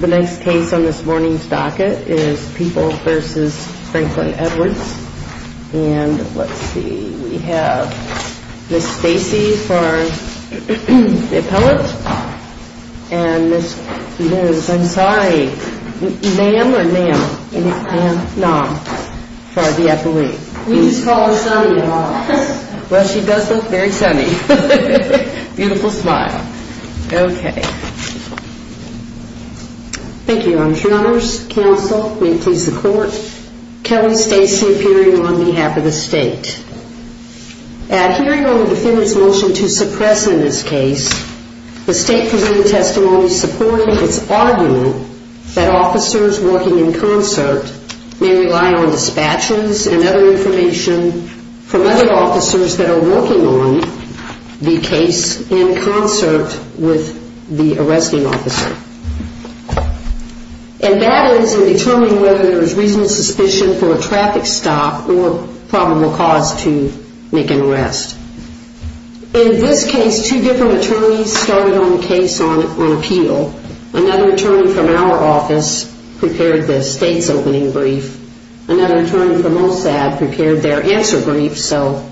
The next case on this morning's docket is People v. Franklin Edwards and let's see, we have Ms. Stacy for the appellate and Ms. I'm sorry, Nam or Nam? Nam for the appellate. We just call her Sunny. Well, she does look very sunny. Beautiful smile. Okay. Thank you, Your Honors. Your Honors, counsel, may it please the court, Kelly Stacy appearing on behalf of the state. At hearing on the defendant's motion to suppress in this case, the state presented testimony supporting its argument that officers working in concert may rely on dispatchers and other information from other officers that are working on the case in concert with the arresting officer. And that is in determining whether there is reasonable suspicion for a traffic stop or probable cause to make an arrest. In this case, two different attorneys started on the case on appeal. Another attorney from our office prepared the state's opening brief. Another attorney from OSAD prepared their answer brief. So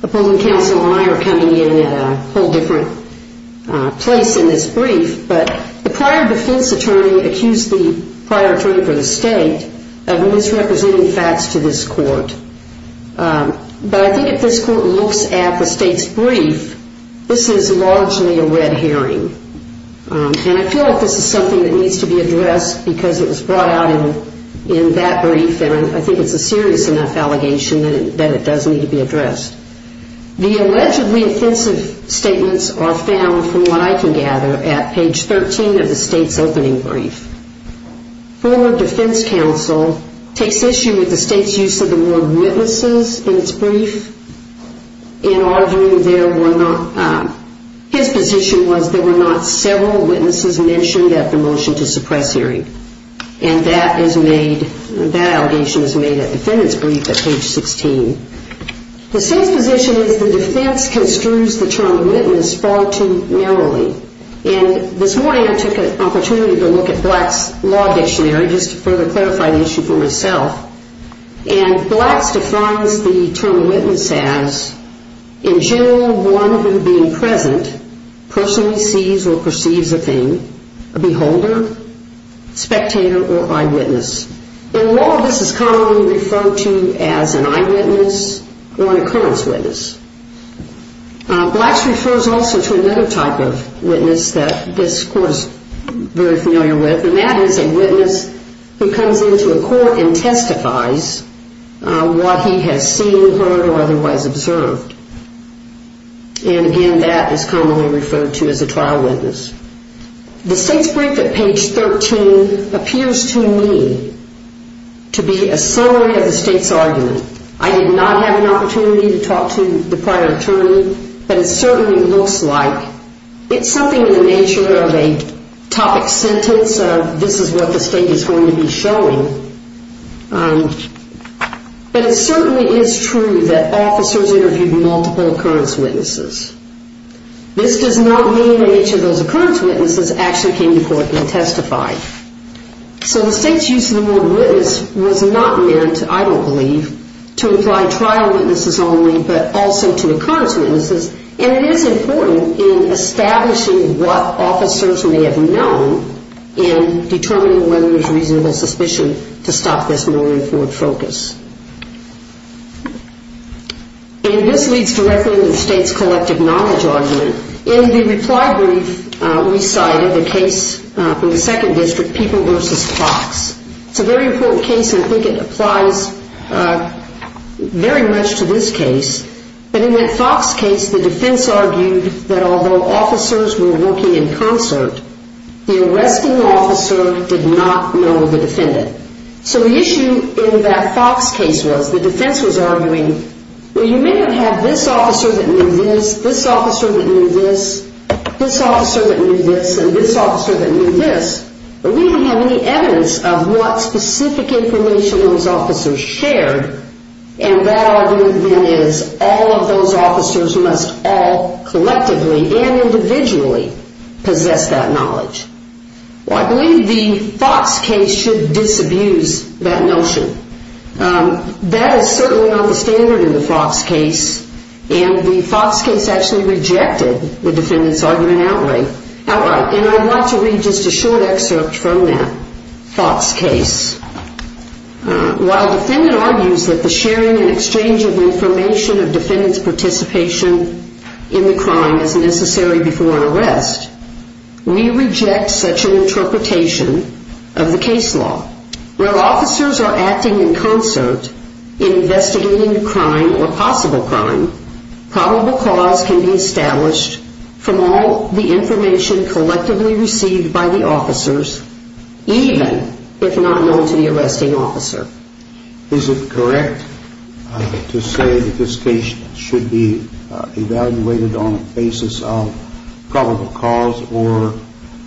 the polling council and I are coming in at a whole different place in this brief. But the prior defense attorney accused the prior attorney for the state of misrepresenting facts to this court. But I think if this court looks at the state's brief, this is largely a red herring. And I feel like this is something that needs to be addressed because it was brought out in that brief. And I think it's a serious enough allegation that it does need to be addressed. The allegedly offensive statements are found from what I can gather at page 13 of the state's opening brief. Former defense counsel takes issue with the state's use of the word witnesses in its brief. In our view, his position was there were not several witnesses mentioned at the motion to suppress hearing. And that allegation is made at defendant's brief at page 16. The state's position is the defense construes the term witness far too narrowly. And this morning I took an opportunity to look at Black's law dictionary just to further clarify the issue for myself. And Black's defines the term witness as, in general, one who being present, personally sees or perceives a thing, a beholder, spectator, or eyewitness. In law, this is commonly referred to as an eyewitness or an occurrence witness. Black's refers also to another type of witness that this court is very familiar with. And that is a witness who comes into a court and testifies what he has seen, heard, or otherwise observed. And again, that is commonly referred to as a trial witness. The state's brief at page 13 appears to me to be a summary of the state's argument. I did not have an opportunity to talk to the prior attorney. But it certainly looks like it's something in the nature of a topic sentence. This is what the state is going to be showing. But it certainly is true that officers interviewed multiple occurrence witnesses. This does not mean that each of those occurrence witnesses actually came to court and testified. So the state's use of the word witness was not meant, I don't believe, to imply trial witnesses only, but also to occurrence witnesses. And it is important in establishing what officers may have known and determining whether there's reasonable suspicion to stop this more important focus. And this leads directly to the state's collective knowledge argument. In the reply brief, we cited the case from the second district, People v. Fox. It's a very important case, and I think it applies very much to this case. But in that Fox case, the defense argued that although officers were working in concert, the arresting officer did not know the defendant. So the issue in that Fox case was the defense was arguing, well, you may not have this officer that knew this, this officer that knew this, this officer that knew this, and this officer that knew this, but we don't have any evidence of what specific information those officers shared. And that argument, then, is all of those officers must all collectively and individually possess that knowledge. Well, I believe the Fox case should disabuse that notion. That is certainly not the standard in the Fox case, and the Fox case actually rejected the defendant's argument outright. And I'd like to read just a short excerpt from that Fox case. While the defendant argues that the sharing and exchange of information of defendant's participation in the crime is necessary before an arrest, we reject such an interpretation of the case law. While officers are acting in concert in investigating a crime or possible crime, probable cause can be established from all the information collectively received by the officers, even if not known to the arresting officer. Is it correct to say that this case should be evaluated on the basis of probable cause or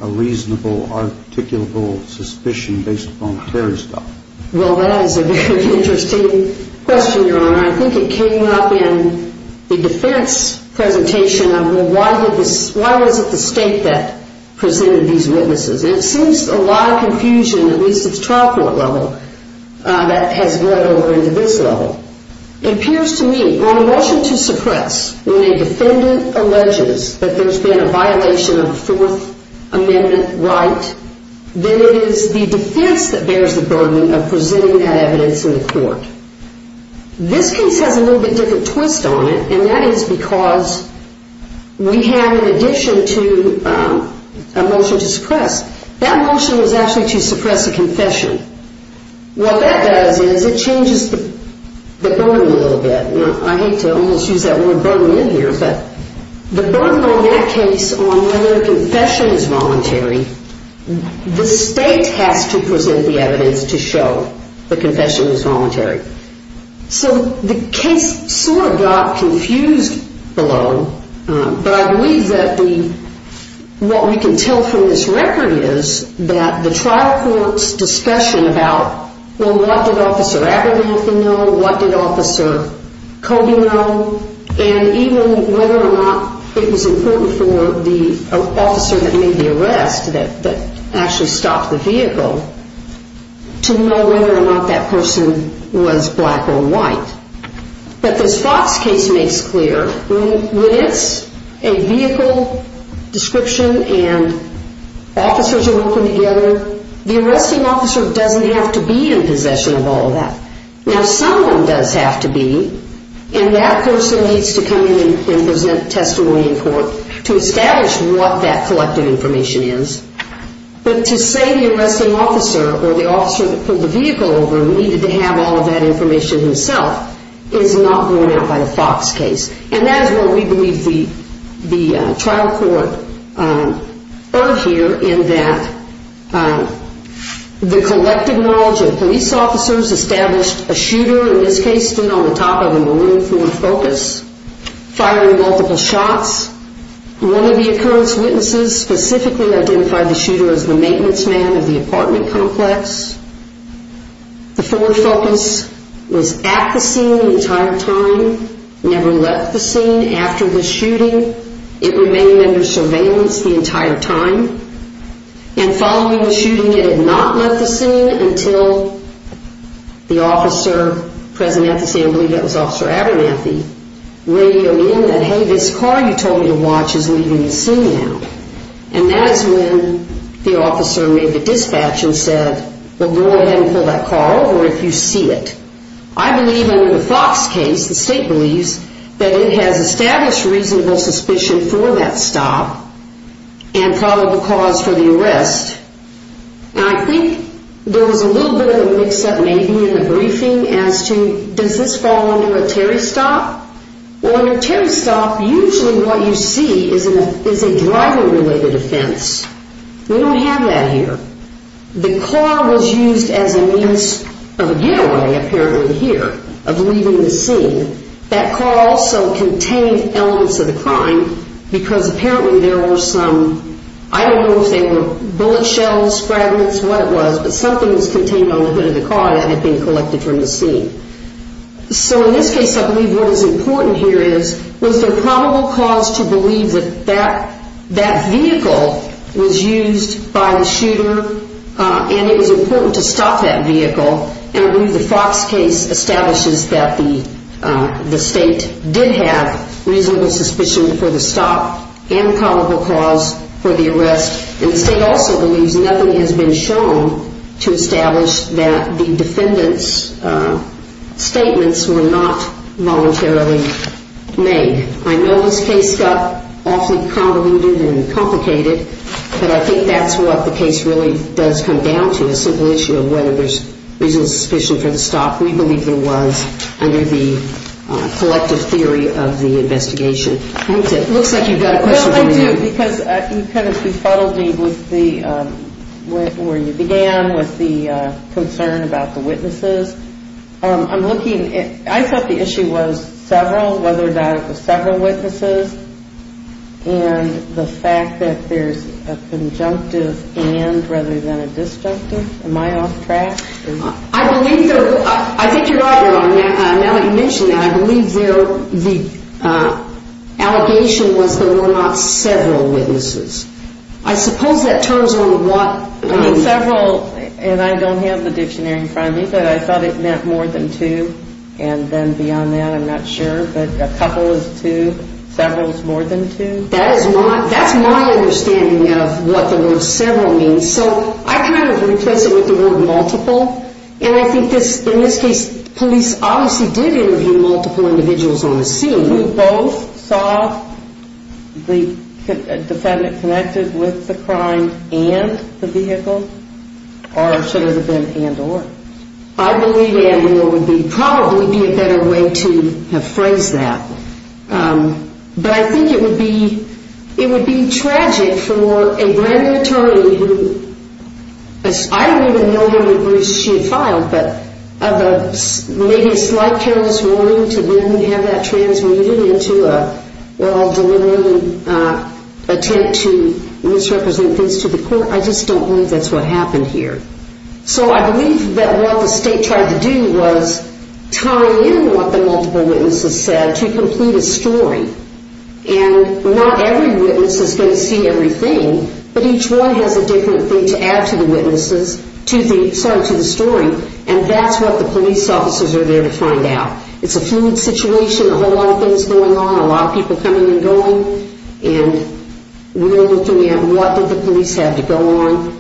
a reasonable, articulable suspicion based upon clear stuff? Well, that is a very interesting question, Your Honor. I think it came up in the defense presentation of, well, why was it the state that presented these witnesses? And it seems a lot of confusion, at least at the trial court level, that has run over into this level. It appears to me, on a motion to suppress, when a defendant alleges that there's been a violation of a Fourth Amendment right, then it is the defense that bears the burden of presenting that evidence in the court. This case has a little bit different twist on it, and that is because we have, in addition to a motion to suppress, that motion was actually to suppress a confession. What that does is it changes the burden a little bit. Now, I hate to almost use that word burden in here, but the burden on that case on whether a confession is voluntary, the state has to present the evidence to show the confession was voluntary. So the case sort of got confused below, but I believe that what we can tell from this record is that the trial court's discussion about, well, what did Officer Abernathy know? What did Officer Cody know? And even whether or not it was important for the officer that made the arrest, that actually stopped the vehicle, to know whether or not that person was black or white. But this Fox case makes clear when it's a vehicle description and officers are working together, the arresting officer doesn't have to be in possession of all of that. Now, someone does have to be, and that person needs to come in and present testimony in court to establish what that collective information is. But to say the arresting officer or the officer that pulled the vehicle over needed to have all of that information himself is not borne out by the Fox case. And that is what we believe the trial court earned here in that the collective knowledge of police officers established a shooter, in this case, stood on the top of a maroon Ford Focus, firing multiple shots. One of the occurrence witnesses specifically identified the shooter as the maintenance man of the apartment complex. The Ford Focus was at the scene the entire time, never left the scene after the shooting. It remained under surveillance the entire time. And following the shooting, it had not left the scene until the officer present at the scene, I believe that was Officer Abernathy, radioed in that, hey, this car you told me to watch is leaving the scene now. And that is when the officer made the dispatch and said, well, go ahead and pull that car over if you see it. I believe under the Fox case, the state believes that it has established reasonable suspicion for that stop and probable cause for the arrest. Now, I think there was a little bit of a mix-up maybe in the briefing as to does this fall under a Terry stop? Well, under a Terry stop, usually what you see is a driver-related offense. We don't have that here. The car was used as a means of a getaway apparently here, of leaving the scene. That car also contained elements of the crime because apparently there were some, I don't know if they were bullet shells, fragments, what it was, but something was contained on the hood of the car that had been collected from the scene. So in this case, I believe what is important here is was there probable cause to believe that that vehicle was used by the shooter and it was important to stop that vehicle. And I believe the Fox case establishes that the state did have reasonable suspicion for the stop and probable cause for the arrest. And the state also believes nothing has been shown to establish that the defendant's statements were not voluntarily made. I know this case got awfully convoluted and complicated, but I think that's what the case really does come down to, a simple issue of whether there's reasonable suspicion for the stop. We believe there was under the collective theory of the investigation. It looks like you've got a question for me now. Well, I do because you kind of befuddled me with where you began, with the concern about the witnesses. I thought the issue was several, whether or not it was several witnesses, and the fact that there's a conjunctive and rather than a disjunctive. Am I off track? I think you're right, Your Honor. Now that you mention that, I believe the allegation was there were not several witnesses. I suppose that turns on what... Several, and I don't have the dictionary in front of me, but I thought it meant more than two. And then beyond that, I'm not sure, but a couple is two, several is more than two. That's my understanding of what the word several means. So I kind of replace it with the word multiple, and I think in this case, police obviously did interview multiple individuals on the scene. You both saw the defendant connected with the crime and the vehicle, or should it have been and or? I believe and or would probably be a better way to have phrased that. But I think it would be tragic for a grand attorney who... I don't even know the regroups she had filed, but maybe a slight careless ruling to then have that transmuted into a well-deliberated attempt to misrepresent things to the court. I just don't believe that's what happened here. So I believe that what the state tried to do was tie in what the multiple witnesses said to complete a story. And not every witness is going to see everything, but each one has a different thing to add to the story. And that's what the police officers are there to find out. It's a fluid situation, a whole lot of things going on, a lot of people coming and going. And we're looking at what did the police have to go on.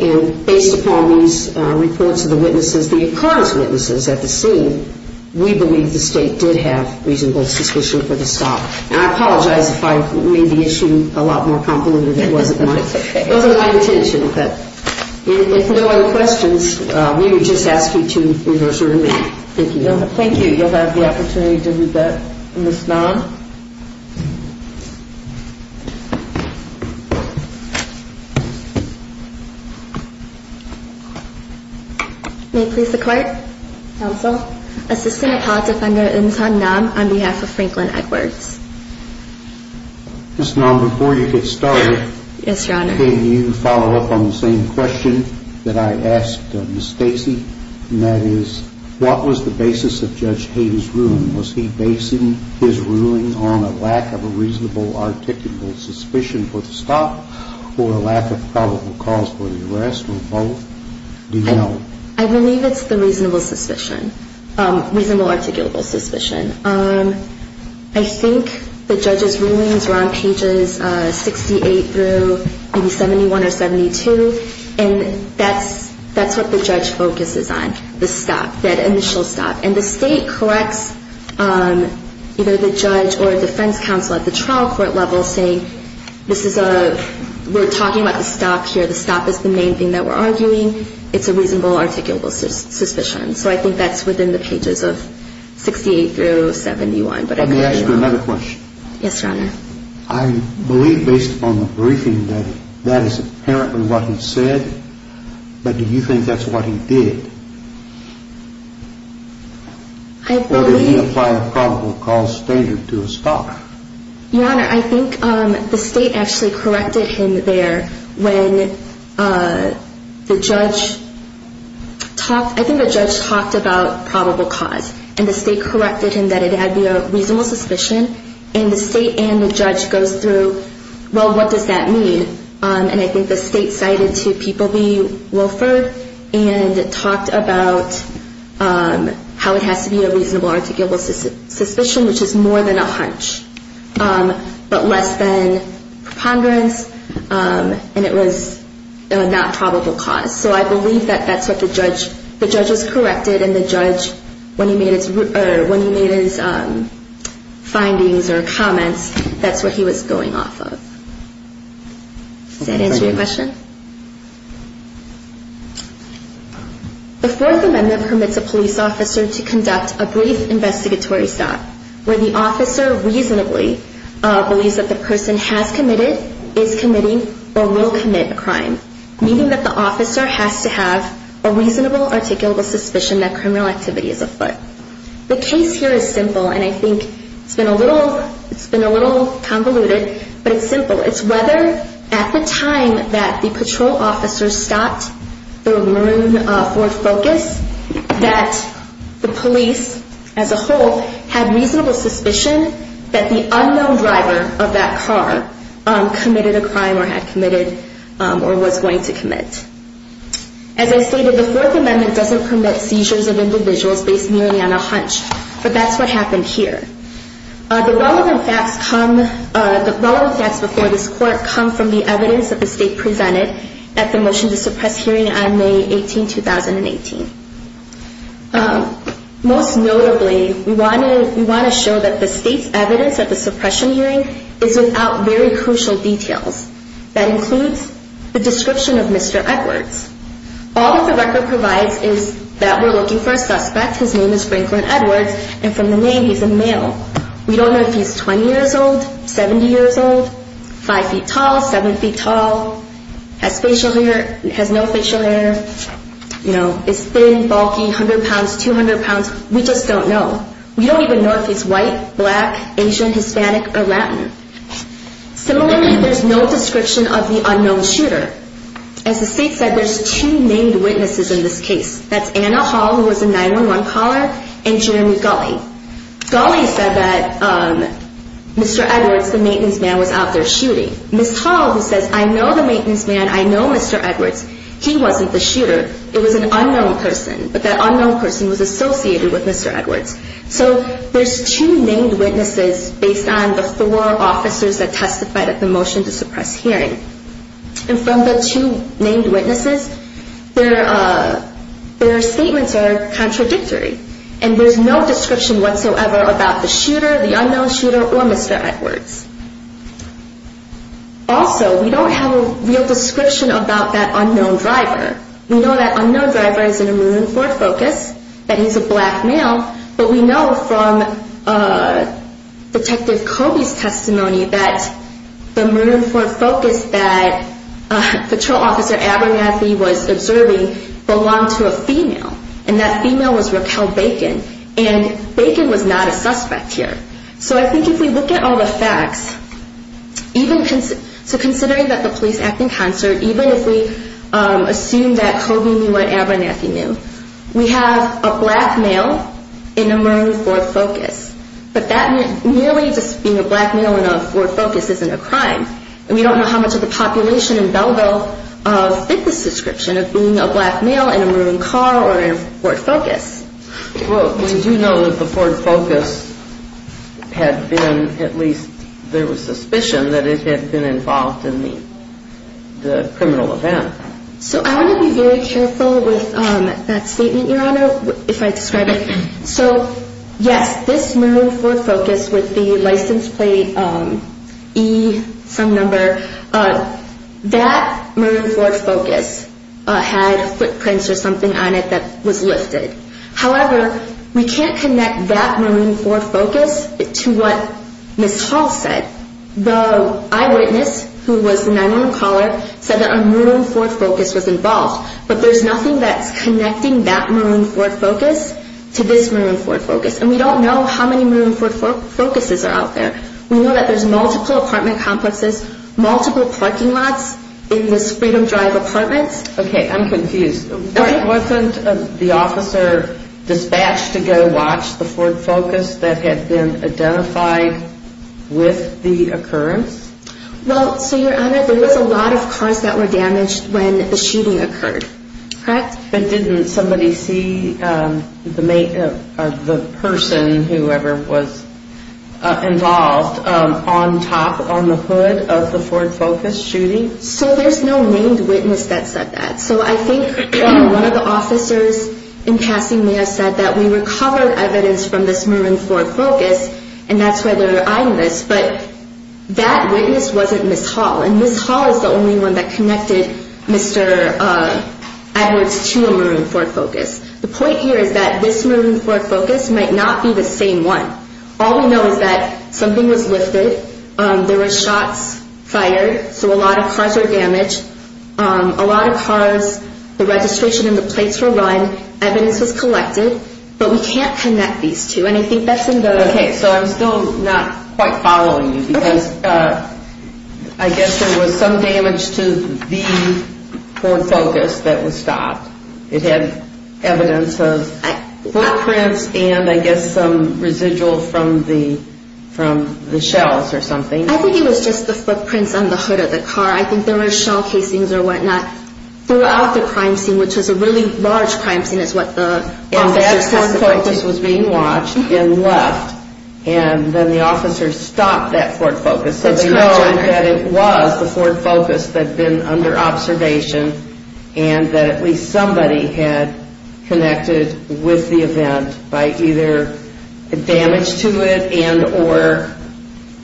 And based upon these reports of the witnesses, the occurrence witnesses at the scene, we believe the state did have reasonable suspicion for the stop. And I apologize if I made the issue a lot more convoluted than it was at the time. It wasn't my intention, but if there are no other questions, we would just ask you to reverse order me. Thank you. Thank you. You'll have the opportunity to do that. I believe it's the reasonable suspicion. Reasonable articulable suspicion. I think the judge's rulings were on pages 68 through maybe 71 or 72. And that's what the judge focuses on, the stop, that initial stop. And the state corrects either the judge or defense counsel at the trial court level saying, this is a we're talking about the stop here, the stop is the main thing that we're arguing, it's a reasonable articulable suspicion. So I think that's within the pages of 68 through 71. Let me ask you another question. Yes, Your Honor. I believe based upon the briefing that that is apparently what he said, but do you think that's what he did? Or did he apply a probable cause standard to a stop? Your Honor, I think the state actually corrected him there when the judge talked, I think the judge talked about probable cause and the state corrected him that it had to be a reasonable suspicion. And the state and the judge goes through, well, what does that mean? And I think the state cited to people be Wilford and talked about how it has to be a reasonable articulable suspicion, which is more than a hunch, but less than preponderance and it was not probable cause. So I believe that that's what the judge, the judge was corrected and the judge, when he made his findings or comments, that's what he was going off of. Does that answer your question? The Fourth Amendment permits a police officer to conduct a brief investigatory stop, where the officer reasonably believes that the person has committed, is committing, or will commit a crime, meaning that the officer has to have a reasonable articulable suspicion that criminal activity is afoot. The case here is simple and I think it's been a little, it's been a little convoluted, but it's simple. It's whether at the time that the patrol officer stopped the maroon Ford Focus, that the police as a whole had reasonable suspicion that the unknown driver of that car committed a crime or had committed or was going to commit. As I stated, the Fourth Amendment doesn't permit seizures of individuals based merely on a hunch, but that's what happened here. The relevant facts come, the relevant facts before this court come from the evidence that the state presented at the motion to suppress hearing on May 18, 2018. Most notably, we want to show that the state's evidence at the suppression hearing is without very crucial details. That includes the description of Mr. Edwards. All that the record provides is that we're looking for a suspect, his name is Franklin Edwards, and from the name he's a male. We don't know if he's 20 years old, 70 years old, five feet tall, seven feet tall, has facial hair, has no facial hair, you know, is thin, bulky, 100 pounds, 200 pounds, we just don't know. We don't even know if he's white, black, Asian, Hispanic, or Latin. Similarly, there's no description of the unknown shooter. As the state said, there's two named witnesses in this case. That's Anna Hall, who was a 911 caller, and Jeremy Gulley. Gulley said that Mr. Edwards, the maintenance man, was out there shooting. Ms. Hall, who says, I know the maintenance man, I know Mr. Edwards, he wasn't the shooter, it was an unknown person. But that unknown person was associated with Mr. Edwards. So there's two named witnesses based on the four officers that testified at the motion to suppress hearing. And from the two named witnesses, their statements are contradictory. And there's no description whatsoever about the shooter, the unknown shooter, or Mr. Edwards. Also, we don't have a real description about that unknown driver. We know that unknown driver is in a maroon Ford Focus, that he's a black male, but we know from Detective Coby's testimony that the maroon Ford Focus that patrol officer Abernathy was observing belonged to a female, and that female was Raquel Bacon, and Bacon was not a suspect here. So I think if we look at all the facts, even considering that the police act in concert, even if we assume that Coby knew what Abernathy knew, we have a black male in a maroon Ford Focus. But that merely just being a black male in a Ford Focus isn't a crime. And we don't know how much of the population in Belleville fit this description of being a black male in a maroon car or in a Ford Focus. Well, we do know that the Ford Focus had been, at least there was suspicion, that it had been involved in the criminal event. So I want to be very careful with that statement, Your Honor, if I describe it. So, yes, this maroon Ford Focus with the license plate E, some number, that maroon Ford Focus had footprints or something on it that was lifted. However, we can't connect that maroon Ford Focus to what Ms. Hall said. The eyewitness, who was the 911 caller, said that a maroon Ford Focus was involved, but there's nothing that's connecting that maroon Ford Focus to this maroon Ford Focus. And we don't know how many maroon Ford Focuses are out there. We know that there's multiple apartment complexes, multiple parking lots in this Freedom Drive apartment. Okay, I'm confused. Wasn't the officer dispatched to go watch the Ford Focus that had been identified with the occurrence? Well, so, Your Honor, there was a lot of cars that were damaged when the shooting occurred, correct? But didn't somebody see the person, whoever was involved, on top, on the hood of the Ford Focus shooting? So there's no named witness that said that. So I think one of the officers in passing may have said that we recovered evidence from this maroon Ford Focus, and that's why they're eyeing this, but that witness wasn't Ms. Hall. And Ms. Hall is the only one that connected Mr. Edwards to a maroon Ford Focus. The point here is that this maroon Ford Focus might not be the same one. All we know is that something was lifted, there were shots fired, so a lot of cars were damaged, a lot of cars, the registration and the plates were run, evidence was collected, but we can't connect these two, and I think that's in the... Okay, so I'm still not quite following you, because I guess there was some damage to the Ford Focus that was stopped. It had evidence of footprints and I guess some residual from the shells or something. I think it was just the footprints on the hood of the car. I think there were shell casings or whatnot throughout the crime scene, which was a really large crime scene is what the officers testified to. And that Ford Focus was being watched and left, and then the officers stopped that Ford Focus. So they know that it was the Ford Focus that had been under observation, and that at least somebody had connected with the event by either damage to it and or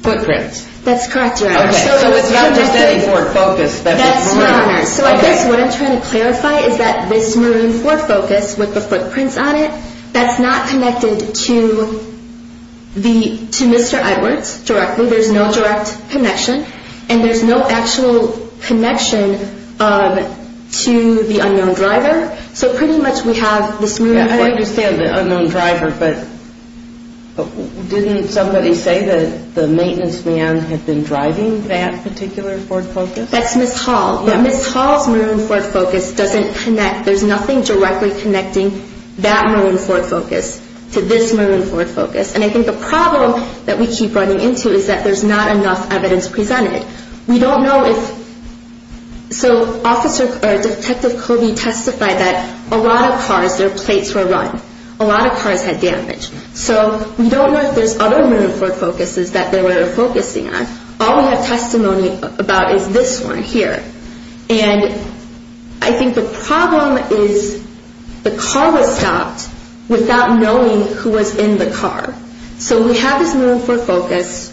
footprints. That's correct, Your Honor. Okay, so it's not just any Ford Focus. That's correct, Your Honor. So I guess what I'm trying to clarify is that this Marine Ford Focus with the footprints on it, that's not connected to Mr. Edwards directly. There's no direct connection, and there's no actual connection to the unknown driver. So pretty much we have this Marine Ford Focus... I understand the unknown driver, but didn't somebody say that the maintenance man had been driving that particular Ford Focus? That's Ms. Hall, but Ms. Hall's Marine Ford Focus doesn't connect. There's nothing directly connecting that Marine Ford Focus to this Marine Ford Focus. And I think the problem that we keep running into is that there's not enough evidence presented. We don't know if...so Detective Covey testified that a lot of cars, their plates were run. A lot of cars had damage. So we don't know if there's other Marine Ford Focuses that they were focusing on. All we have testimony about is this one here. And I think the problem is the car was stopped without knowing who was in the car. So we have this Marine Ford Focus.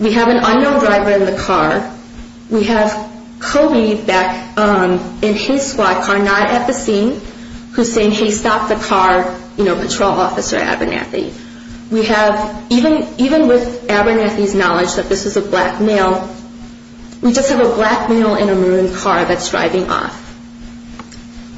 We have an unknown driver in the car. We have Covey back in his squad car, not at the scene, who's saying, hey, stop the car, you know, patrol officer Abernathy. We have...even with Abernathy's knowledge that this is a black male, we just have a black male in a maroon car that's driving off.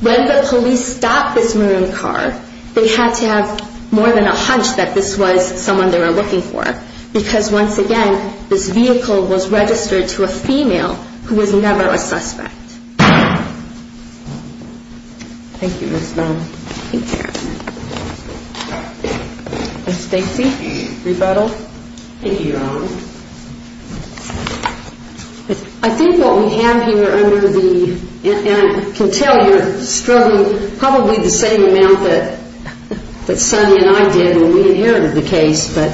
When the police stopped this maroon car, they had to have more than a hunch that this was someone they were looking for. Because once again, this vehicle was registered to a female who was never a suspect. Thank you, Ms. Bell. Ms. Stacy, rebuttal. I think what we have here under the...and I can tell you're struggling probably the same amount that Sunny and I did when we inherited the case. But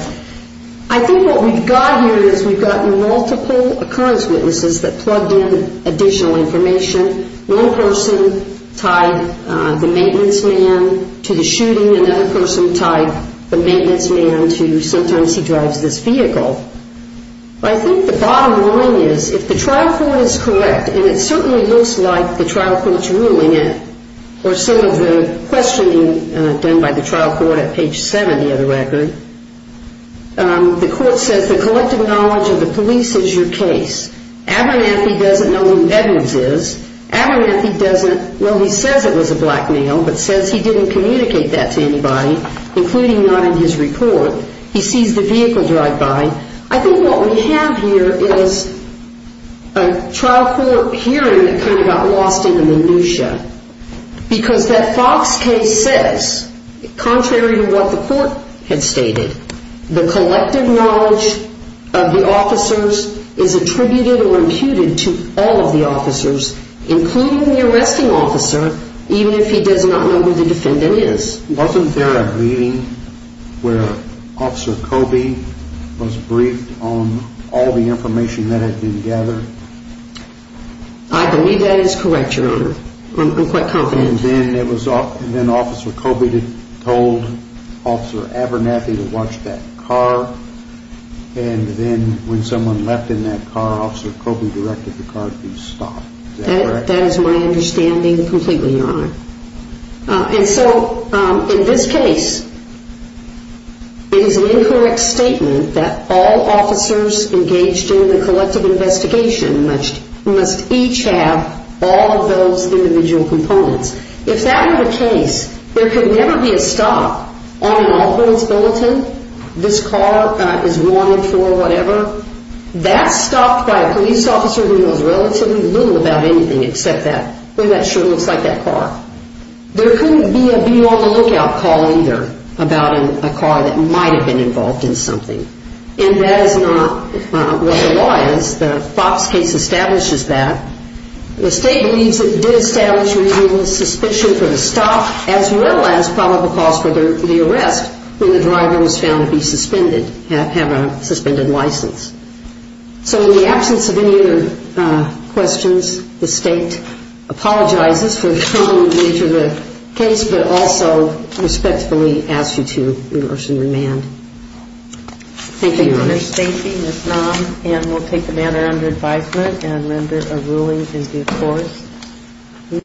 I think what we've got here is we've gotten multiple occurrence witnesses that plugged in additional information. One person tied the maintenance man to the shooting. Another person tied the maintenance man to sometimes he drives this vehicle. I think the bottom line is if the trial court is correct, and it certainly looks like the trial court is ruling it, or some of the questioning done by the trial court at page 7 of the record, the court says the collective knowledge of the police is your case. Abernathy doesn't know who Edwards is. Abernathy doesn't...well, he says it was a black male, but says he didn't communicate that to anybody, including not in his report. He sees the vehicle drive by. I think what we have here is a trial court hearing that kind of got lost in the minutiae. Because that Fox case says, contrary to what the court had stated, the collective knowledge of the officers is attributed or imputed to all of the officers, including the arresting officer, even if he does not know who the defendant is. Wasn't there a reading where Officer Coby was briefed on all the information that had been gathered? I believe that is correct, Your Honor. I'm quite confident. And then Officer Coby told Officer Abernathy to watch that car, and then when someone left in that car, Officer Coby directed the car to be stopped. That is my understanding completely, Your Honor. And so, in this case, it is an incorrect statement that all officers engaged in the collective investigation must each have all of those individual components. If that were the case, there could never be a stop on an all-violence bulletin. This car is wanted for whatever. That's stopped by a police officer who knows relatively little about anything except that. And that sure looks like that car. There couldn't be a be on the lookout call either about a car that might have been involved in something. And that is not what the law is. The Fox case establishes that. The State believes it did establish reasonable suspicion for the stop, as well as probable cause for the arrest when the driver was found to be suspended, have a suspended license. So in the absence of any other questions, the State apologizes for the troubling nature of the case, but also respectfully asks you to rehearse and remand. Thank you, Your Honor. Thank you, Ms. Naum. And we'll take the matter under advisement and render a ruling in due course.